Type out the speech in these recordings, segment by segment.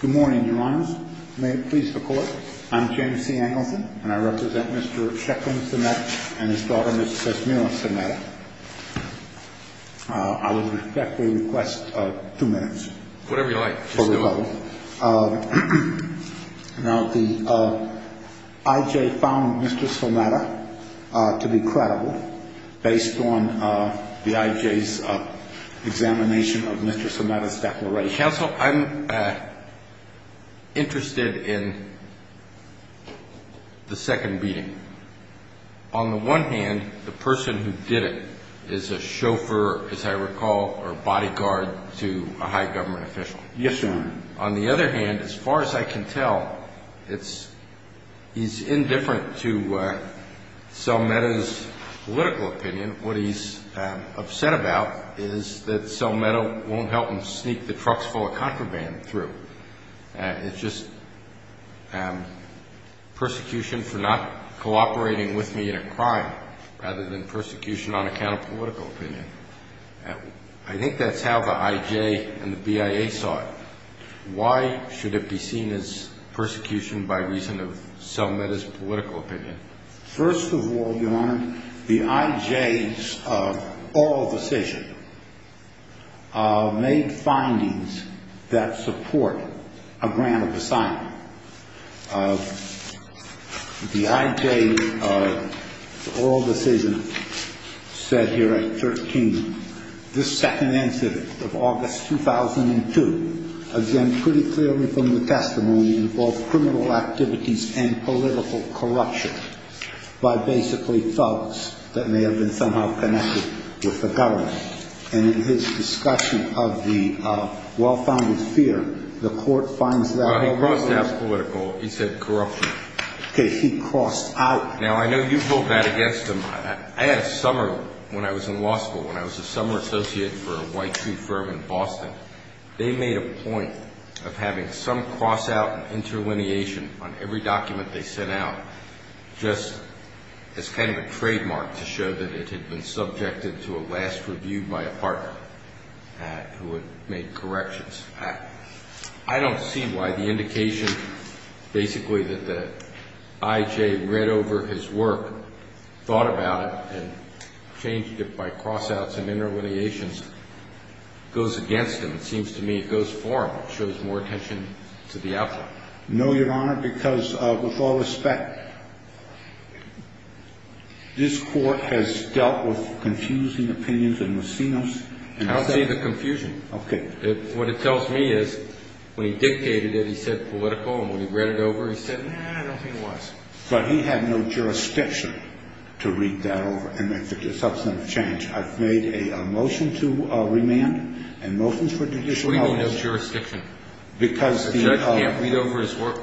Good morning, your honors. May it please the court, I'm James C. Angelson, and I represent Mr. Sheklin Someta and his daughter, Ms. Sesmira Someta. I would respectfully request two minutes. Whatever you like. Just do it. Now, the I.J. found Mr. Someta to be credible based on the I.J.'s examination of Mr. Someta's declaration. Mr. Counsel, I'm interested in the second beating. On the one hand, the person who did it is a chauffeur, as I recall, or bodyguard to a high government official. Yes, sir. On the other hand, as far as I can tell, he's indifferent to Someta's political opinion. What he's upset about is that Someta won't help him sneak the trucks full of contraband through. It's just persecution for not cooperating with me in a crime rather than persecution on account of political opinion. I think that's how the I.J. and the BIA saw it. Why should it be seen as persecution by reason of Someta's political opinion? First of all, your honor, the I.J.'s oral decision made findings that support a grant of asylum. The I.J.'s oral decision said here at 13, this second incident of August 2002, again, pretty clearly from the testimony, involved criminal activities and political corruption by basically thugs that may have been somehow connected with the government. And in his discussion of the well-founded fear, the court finds that. Well, he crossed out political. He said corruption. Okay. He crossed out. Now, I know you vote that against him. I had a summer when I was in law school, when I was a summer associate for a white tree firm in Boston. They made a point of having some crossout and interlineation on every document they sent out just as kind of a trademark to show that it had been subjected to a last review by a partner who had made corrections. I don't see why the indication basically that the I.J. read over his work, thought about it, and changed it by crossouts and interlineations goes against him. It seems to me it goes for him. It shows more attention to the outlier. No, Your Honor, because with all respect, this court has dealt with confusing opinions and has seen them. I don't see the confusion. Okay. What it tells me is when he dictated it, he said political, and when he read it over, he said. No, I don't think he was. But he had no jurisdiction to read that over and make the substantive change. I've made a motion to remand and motions for judicial coverage. What do you mean no jurisdiction? Because the judge can't read over his work.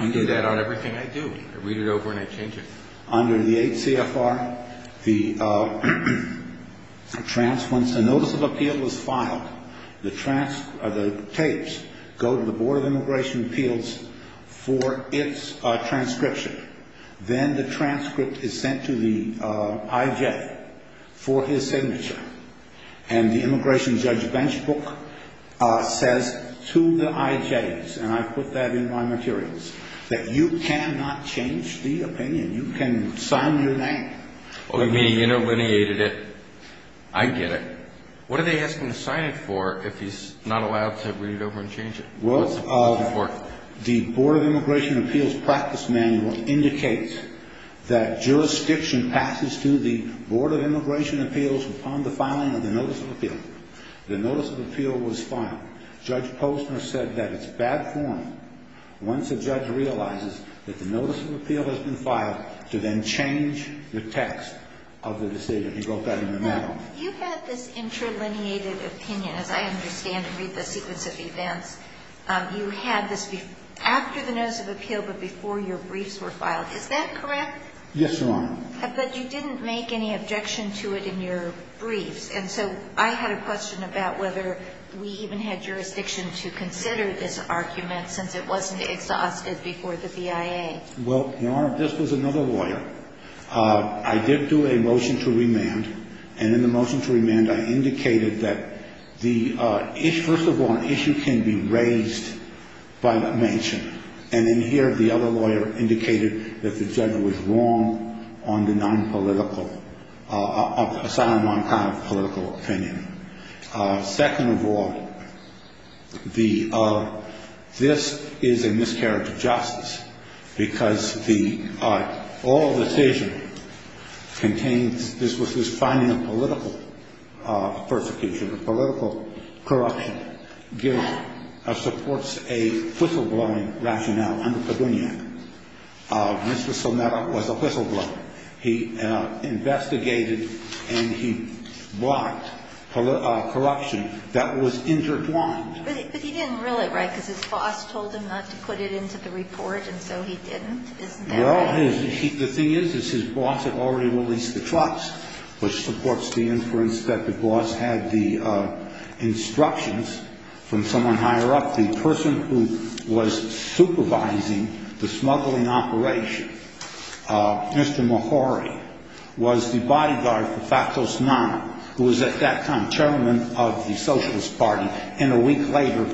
You do that on everything I do. I read it over and I change it. Under the 8 CFR, the notice of appeal was filed. The tapes go to the Board of Immigration Appeals for its transcription. Then the transcript is sent to the I.J. for his signature. And the immigration judge's bench book says to the I.J.'s, and I put that in my materials, that you cannot change the opinion. You can sign your name. Oh, you mean he interlineated it. I get it. What are they asking him to sign it for if he's not allowed to read it over and change it? The Board of Immigration Appeals practice manual indicates that jurisdiction passes to the Board of Immigration Appeals upon the filing of the notice of appeal. The notice of appeal was filed. Judge Posner said that it's bad form, once a judge realizes that the notice of appeal has been filed, to then change the text of the decision. He wrote that in the manual. You had this interlineated opinion, as I understand and read the sequence of events. You had this after the notice of appeal but before your briefs were filed. Is that correct? Yes, Your Honor. But you didn't make any objection to it in your briefs. And so I had a question about whether we even had jurisdiction to consider this argument since it wasn't exhausted before the BIA. Well, Your Honor, this was another lawyer. I did do a motion to remand. And in the motion to remand, I indicated that the issue, first of all, an issue can be raised by mention. And in here, the other lawyer indicated that the judge was wrong on the non-political, assignment on kind of political opinion. Second of all, this is a miscarriage of justice because the all decision contains, this was his finding of political persecution, of political corruption, supports a whistleblowing rationale under Padunian. Mr. Somera was a whistleblower. He investigated and he blocked corruption that was intertwined. But he didn't rule it right because his boss told him not to put it into the report and so he didn't, isn't that right? Well, the thing is his boss had already released the trust, which supports the inference that the boss had the instructions from someone higher up, the person who was supervising the smuggling operation. Mr. Mohori was the bodyguard for Fatos Nani, who was at that time chairman of the Socialist Party, and a week later,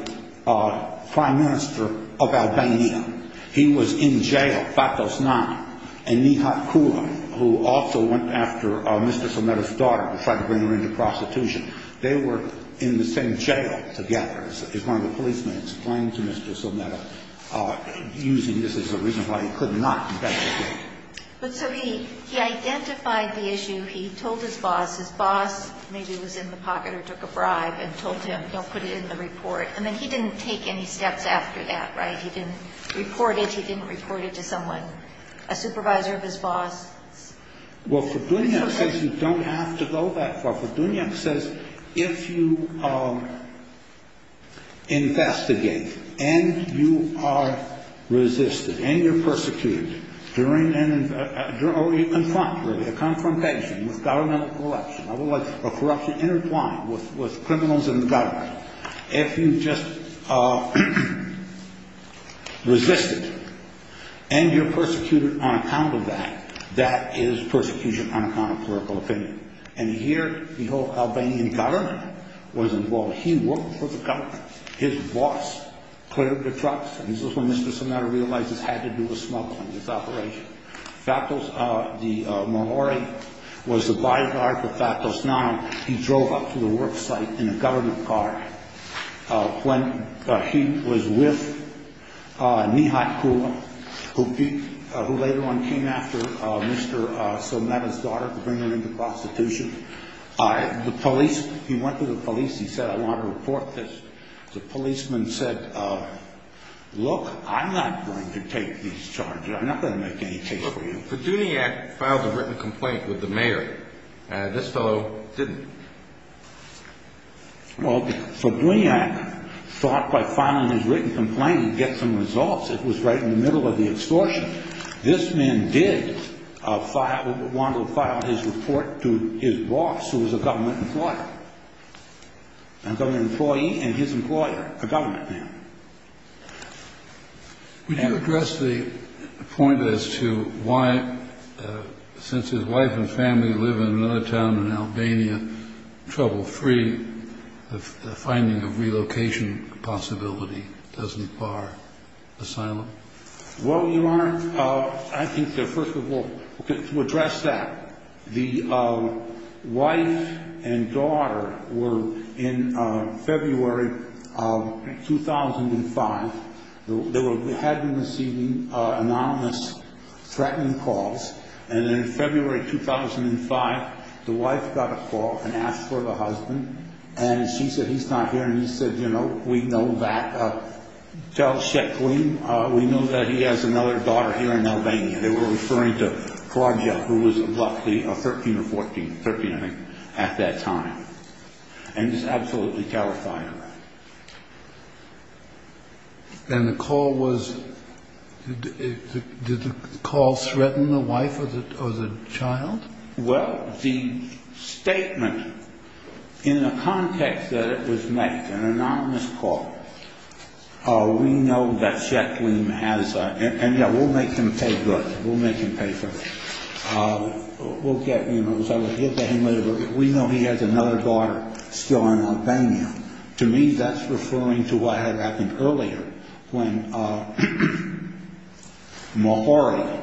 prime minister of Albania. He was in jail, Fatos Nani, and Nihat Kula, who also went after Mr. Somera's daughter to try to bring her into prostitution. They were in the same jail together, as one of the policemen explained to Mr. Somera, using this as a reason why he could not investigate. But so he identified the issue, he told his boss, his boss maybe was in the pocket or took a bribe and told him don't put it in the report, and then he didn't take any steps after that, right? He didn't report it, he didn't report it to someone, a supervisor of his boss. Well, Ferdinand says you don't have to go that far. Ferdinand says if you investigate and you are resisted and you're persecuted, during and in front, really, a confrontation with governmental corruption, I would like, or corruption intertwined with criminals in the government, if you just resisted and you're persecuted on account of that, that is persecution on account of clerical opinion. And here, the whole Albanian government was involved. He worked for the government. His boss cleared the trucks, and this is when Mr. Somera realized this had to do with smuggling, this operation. Fatos, the morore, was the by-guard for Fatos Nani. He drove up to the work site in a government car when he was with Mihai Kula, who later on came after Mr. Somera's daughter to bring her into prostitution. The police, he went to the police, he said, I want to report this. The policeman said, look, I'm not going to take these charges. I'm not going to make any case for you. Fiduniak filed a written complaint with the mayor. This fellow didn't. Well, Fiduniak thought by filing his written complaint he'd get some results. It was right in the middle of the extortion. This man did want to file his report to his boss, who was a government employer, a government employee, and his employer, a government man. Would you address the point as to why, since his wife and family live in another town in Albania, trouble-free, the finding of relocation possibility doesn't bar asylum? Well, Your Honor, I think that first of all, to address that, the wife and daughter were in February 2005. They had been receiving anonymous threatening calls. And then in February 2005, the wife got a call and asked for the husband. And she said, he's not here. And he said, you know, we know that. We know that he has another daughter here in Albania. They were referring to Claudia, who was luckily 13 or 14, 13, I think, at that time. And he's absolutely terrified of that. And the call was, did the call threaten the wife or the child? Well, the statement, in the context that it was made, an anonymous call, we know that Sheklim has, and, yeah, we'll make him pay good. We'll make him pay for it. We'll get, you know, we know he has another daughter still in Albania. To me, that's referring to what had happened earlier when Mohori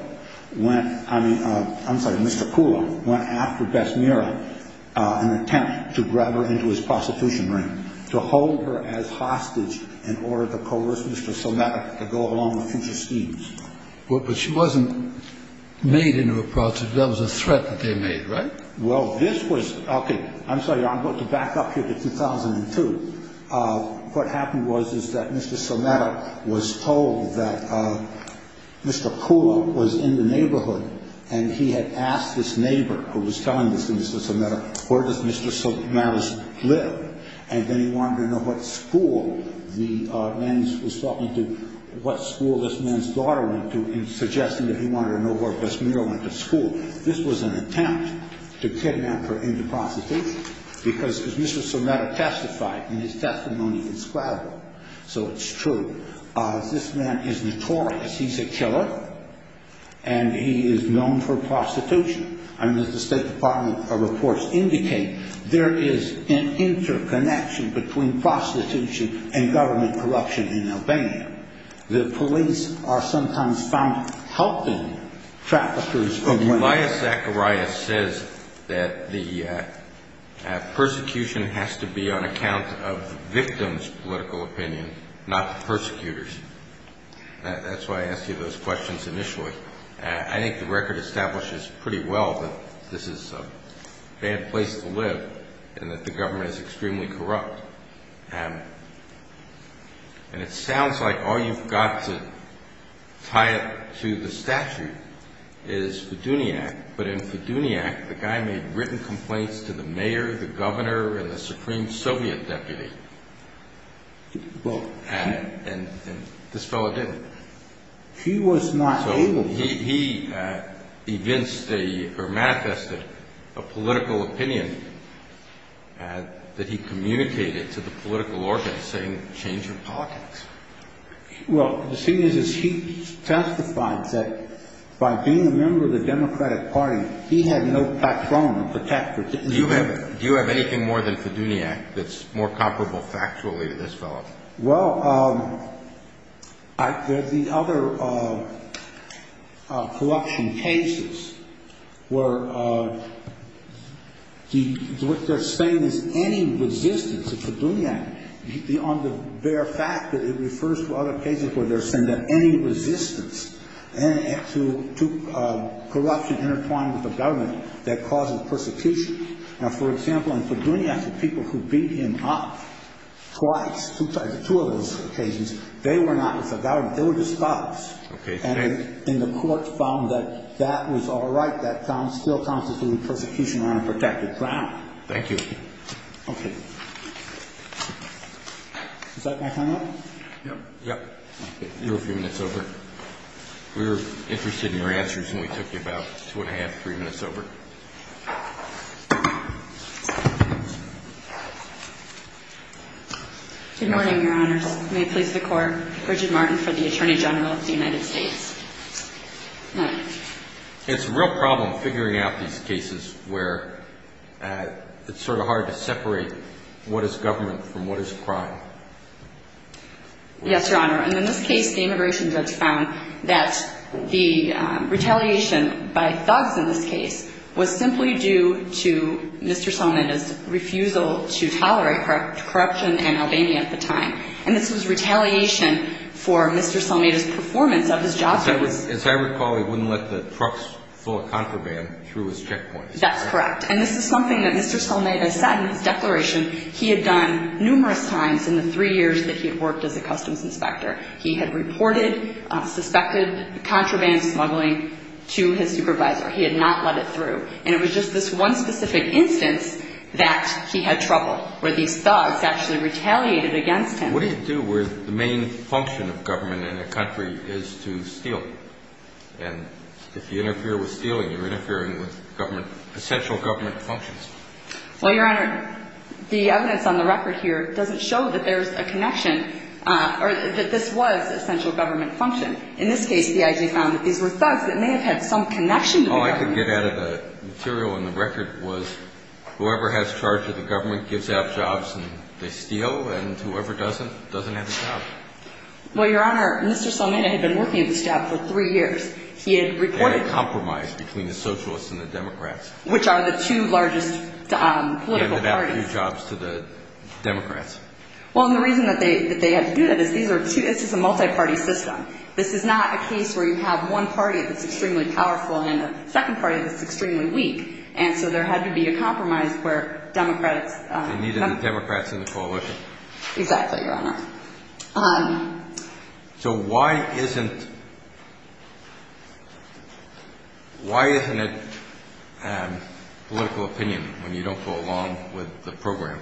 went, I mean, I'm sorry, Mr. Kula, went after Besmira in an attempt to grab her into his prostitution ring, to hold her as hostage in order to coerce Mr. Sometica to go along with future schemes. But she wasn't made into a prostitute. That was a threat that they made, right? Well, this was, okay, I'm sorry, I'm going to back up here to 2002. What happened was, is that Mr. Sometica was told that Mr. Kula was in the neighborhood, and he had asked his neighbor, who was telling this to Mr. Sometica, where does Mr. Sometica live? And then he wanted to know what school the man was talking to, what school this man's daughter went to, in suggesting that he wanted to know where Besmira went to school. This was an attempt to kidnap her into prostitution, because as Mr. Sometica testified in his testimony, it's credible, so it's true. This man is notorious. He's a killer, and he is known for prostitution. I mean, as the State Department reports indicate, there is an interconnection between prostitution and government corruption in Albania. The police are sometimes found helping traffickers. Elias Zacharias says that the persecution has to be on account of the victim's political opinion, not the persecutor's. That's why I asked you those questions initially. I think the record establishes pretty well that this is a bad place to live, and that the government is extremely corrupt. And it sounds like all you've got to tie it to the statute is Fiduniak. But in Fiduniak, the guy made written complaints to the mayor, the governor, and the Supreme Soviet deputy. And this fellow didn't. He was not able to. He evinced or manifested a political opinion that he communicated to the political organ, saying, change your politics. Well, the thing is, is he testified that by being a member of the Democratic Party, he had no patron or protector. Do you have anything more than Fiduniak that's more comparable factually to this fellow? Well, there are the other corruption cases where what they're saying is any resistance to Fiduniak, on the bare fact that it refers to other cases where they're saying that any resistance to corruption intertwined with the government, that causes persecution. Now, for example, in Fiduniak, the people who beat him up twice, two of those occasions, they were not with the government. They were just cops. Okay. And the court found that that was all right. That still constitutes persecution on a protected ground. Thank you. Okay. Is that my time up? Yep. Yep. You're a few minutes over. We were interested in your answers, and we took you about two and a half, three minutes over. Good morning, Your Honors. May it please the Court. Bridget Martin for the Attorney General of the United States. It's a real problem figuring out these cases where it's sort of hard to separate what is government from what is crime. Yes, Your Honor. And in this case, the immigration judge found that the retaliation by thugs in this case was simply due to Mr. Salameda's refusal to tolerate corruption in Albania at the time. And this was retaliation for Mr. Salameda's performance of his job. As I recall, he wouldn't let the trucks full of contraband through his checkpoints. That's correct. And this is something that Mr. Salameda said in his declaration he had done numerous times in the three years that he had worked as a customs inspector. He had reported suspected contraband smuggling to his supervisor. He had not let it through. And it was just this one specific instance that he had trouble, where these thugs actually retaliated against him. What do you do where the main function of government in a country is to steal? And if you interfere with stealing, you're interfering with essential government functions. Well, Your Honor, the evidence on the record here doesn't show that there's a connection or that this was essential government function. In this case, the IG found that these were thugs that may have had some connection to the government. All I could get out of the material in the record was whoever has charge of the government gives out jobs and they steal, and whoever doesn't, doesn't have a job. Well, Your Honor, Mr. Salameda had been working at this job for three years. He had reported – They had a compromise between the Socialists and the Democrats. Which are the two largest political parties. He handed out two jobs to the Democrats. Well, and the reason that they had to do that is these are two – this is a multi-party system. This is not a case where you have one party that's extremely powerful and a second party that's extremely weak. And so there had to be a compromise where Democrats – They needed the Democrats in the coalition. Exactly, Your Honor. So why isn't – why isn't it political opinion when you don't go along with the program?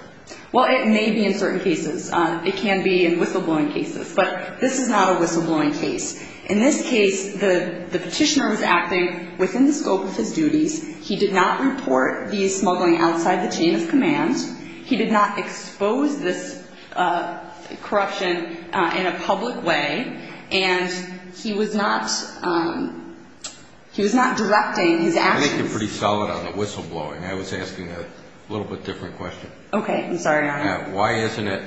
Well, it may be in certain cases. It can be in whistleblowing cases. But this is not a whistleblowing case. In this case, the petitioner was acting within the scope of his duties. He did not report these smuggling outside the chain of command. He did not expose this corruption in a public way. And he was not – he was not directing his actions. I think you're pretty solid on the whistleblowing. I was asking a little bit different question. Okay. I'm sorry, Your Honor. Why isn't it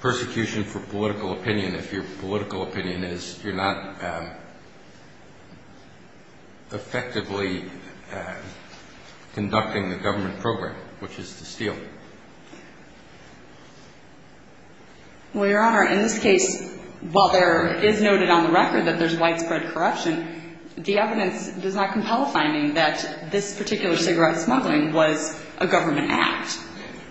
persecution for political opinion if your political opinion is you're not effectively conducting the government program, which is to steal? Well, Your Honor, in this case, while there is noted on the record that there's widespread corruption, the evidence does not compel finding that this particular cigarette smuggling was a government act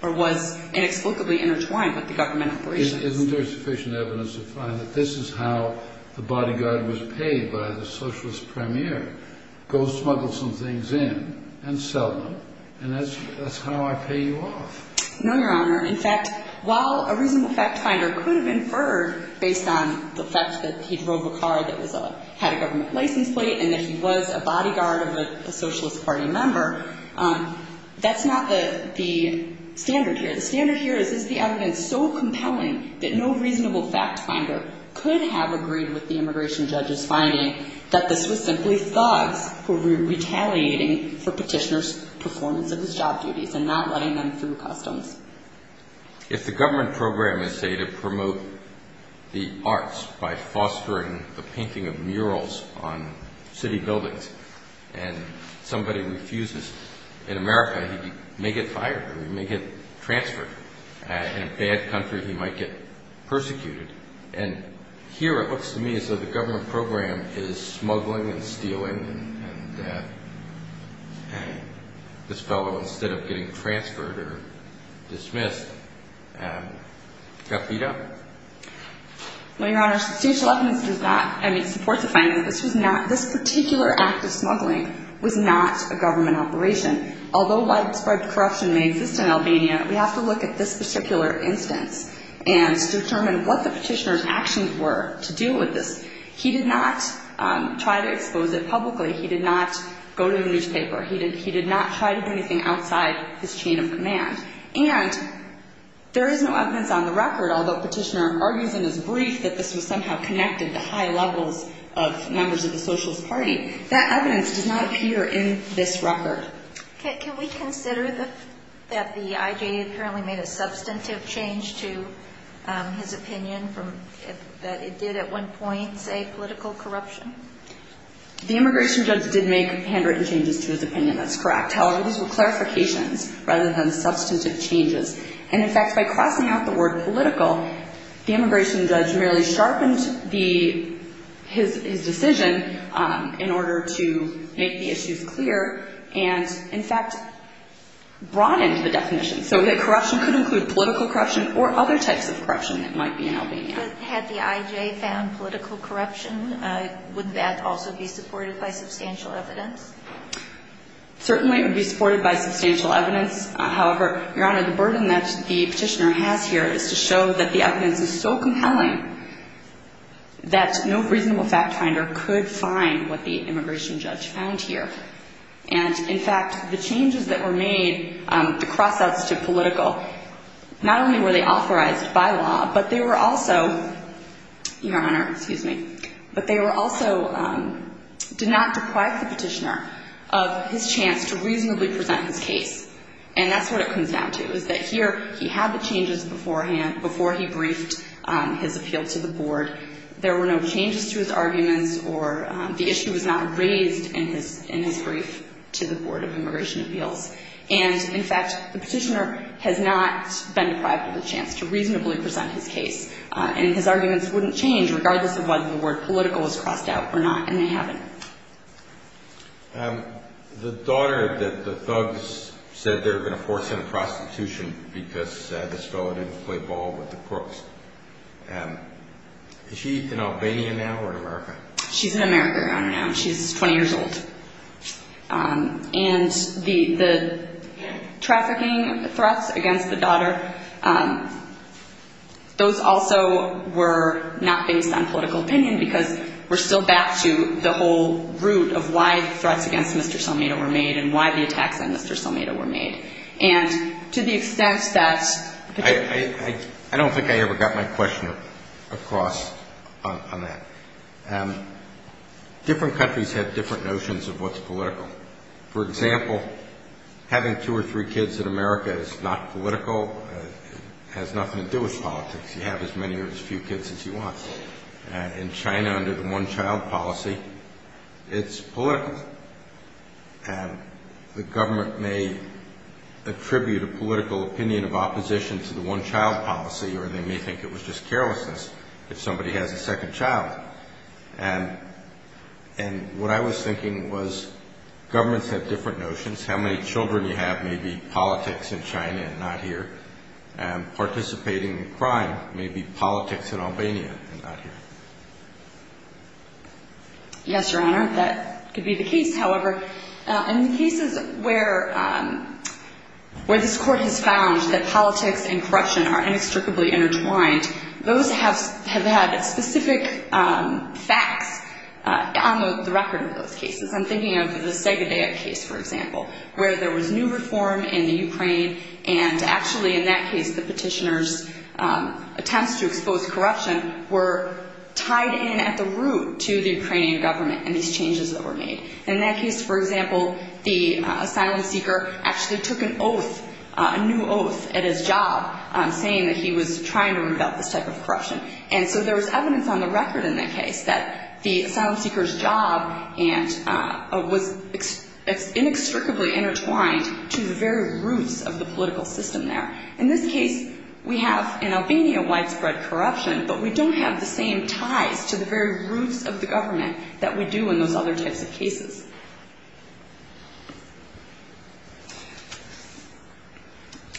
or was inexplicably intertwined with the government operations. Isn't there sufficient evidence to find that this is how the bodyguard was paid by the socialist premier? Go smuggle some things in and sell them, and that's how I pay you off. No, Your Honor. In fact, while a reasonable fact finder could have inferred based on the fact that he drove a car that had a government license plate and that he was a bodyguard of a socialist party member, that's not the standard here. The standard here is, is the evidence so compelling that no reasonable fact finder could have agreed with the immigration judge's finding that this was simply thugs who were retaliating for petitioner's performance of his job duties and not letting them through customs. If the government program is, say, to promote the arts by fostering the painting of murals on city buildings and somebody refuses, in America he may get fired or he may get transferred. In a bad country he might get persecuted. And here it looks to me as though the government program is smuggling and stealing and this fellow, instead of getting transferred or dismissed, got beat up. Well, Your Honor, sufficient evidence does not support the finding that this particular act of smuggling was not a government operation. Although widespread corruption may exist in Albania, we have to look at this particular instance and determine what the petitioner's actions were to deal with this. He did not try to expose it publicly. He did not go to the newspaper. He did not try to do anything outside his chain of command. And there is no evidence on the record, although petitioner argues in his brief that this was somehow connected to high levels of members of the socialist party, that evidence does not appear in this record. Can we consider that the IJA apparently made a substantive change to his opinion that it did at one point say political corruption? The immigration judge did make handwritten changes to his opinion. That's correct. However, these were clarifications rather than substantive changes. And, in fact, by crossing out the word political, the immigration judge merely sharpened his decision in order to make the issues clear and, in fact, broadened the definition so that corruption could include political corruption or other types of corruption that might be in Albania. But had the IJA found political corruption, would that also be supported by substantial evidence? Certainly it would be supported by substantial evidence. However, Your Honor, the burden that the petitioner has here is to show that the evidence is so compelling that no reasonable fact finder could find what the immigration judge found here. And, in fact, the changes that were made to cross out to political, not only were they authorized by law, but they were also, Your Honor, And that's what it comes down to, is that here he had the changes beforehand before he briefed his appeal to the board. There were no changes to his arguments, or the issue was not raised in his brief to the Board of Immigration Appeals. And, in fact, the petitioner has not been deprived of a chance to reasonably present his case. And his arguments wouldn't change regardless of whether the word political was crossed out or not, and they haven't. The daughter that the thugs said they were going to force into prostitution because this fellow didn't play ball with the crooks, is she in Albania now or in America? She's in America, Your Honor, now. She's 20 years old. And the trafficking threats against the daughter, those also were not based on political opinion because we're still back to the whole root of why threats against Mr. Selmedo were made and why the attacks on Mr. Selmedo were made. And to the extent that the ---- I don't think I ever got my question across on that. Different countries have different notions of what's political. For example, having two or three kids in America is not political. It has nothing to do with politics. You have as many or as few kids as you want. In China, under the one-child policy, it's political. And the government may attribute a political opinion of opposition to the one-child policy, or they may think it was just carelessness if somebody has a second child. And what I was thinking was governments have different notions. How many children you have may be politics in China and not here, and participating in crime may be politics in Albania and not here. Yes, Your Honor, that could be the case. However, in the cases where this Court has found that politics and corruption are inextricably intertwined, those have had specific facts on the record of those cases. I'm thinking of the Segedia case, for example, where there was new reform in the Ukraine, and actually, in that case, the petitioner's attempts to expose corruption were tied in at the root to the Ukrainian government and these changes that were made. In that case, for example, the asylum seeker actually took an oath, a new oath, at his job, saying that he was trying to rebuild this type of corruption. And so there was evidence on the record in that case that the asylum seeker's job was inextricably intertwined to the very roots of the political system there. In this case, we have in Albania widespread corruption, but we don't have the same ties to the very roots of the government that we do in those other types of cases.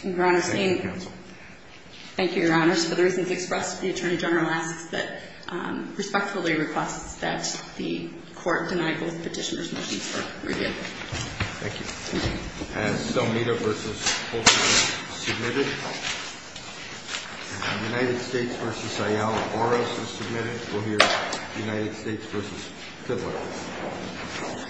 Your Honor, thank you, Your Honors. For the reasons expressed, the Attorney General asks that, respectfully requests that the Court deny both petitioners' motions for review. Thank you. As Stelmita v. Olson is submitted and United States v. Ayala Boros is submitted, we'll hear United States v. Fidler. Thank you.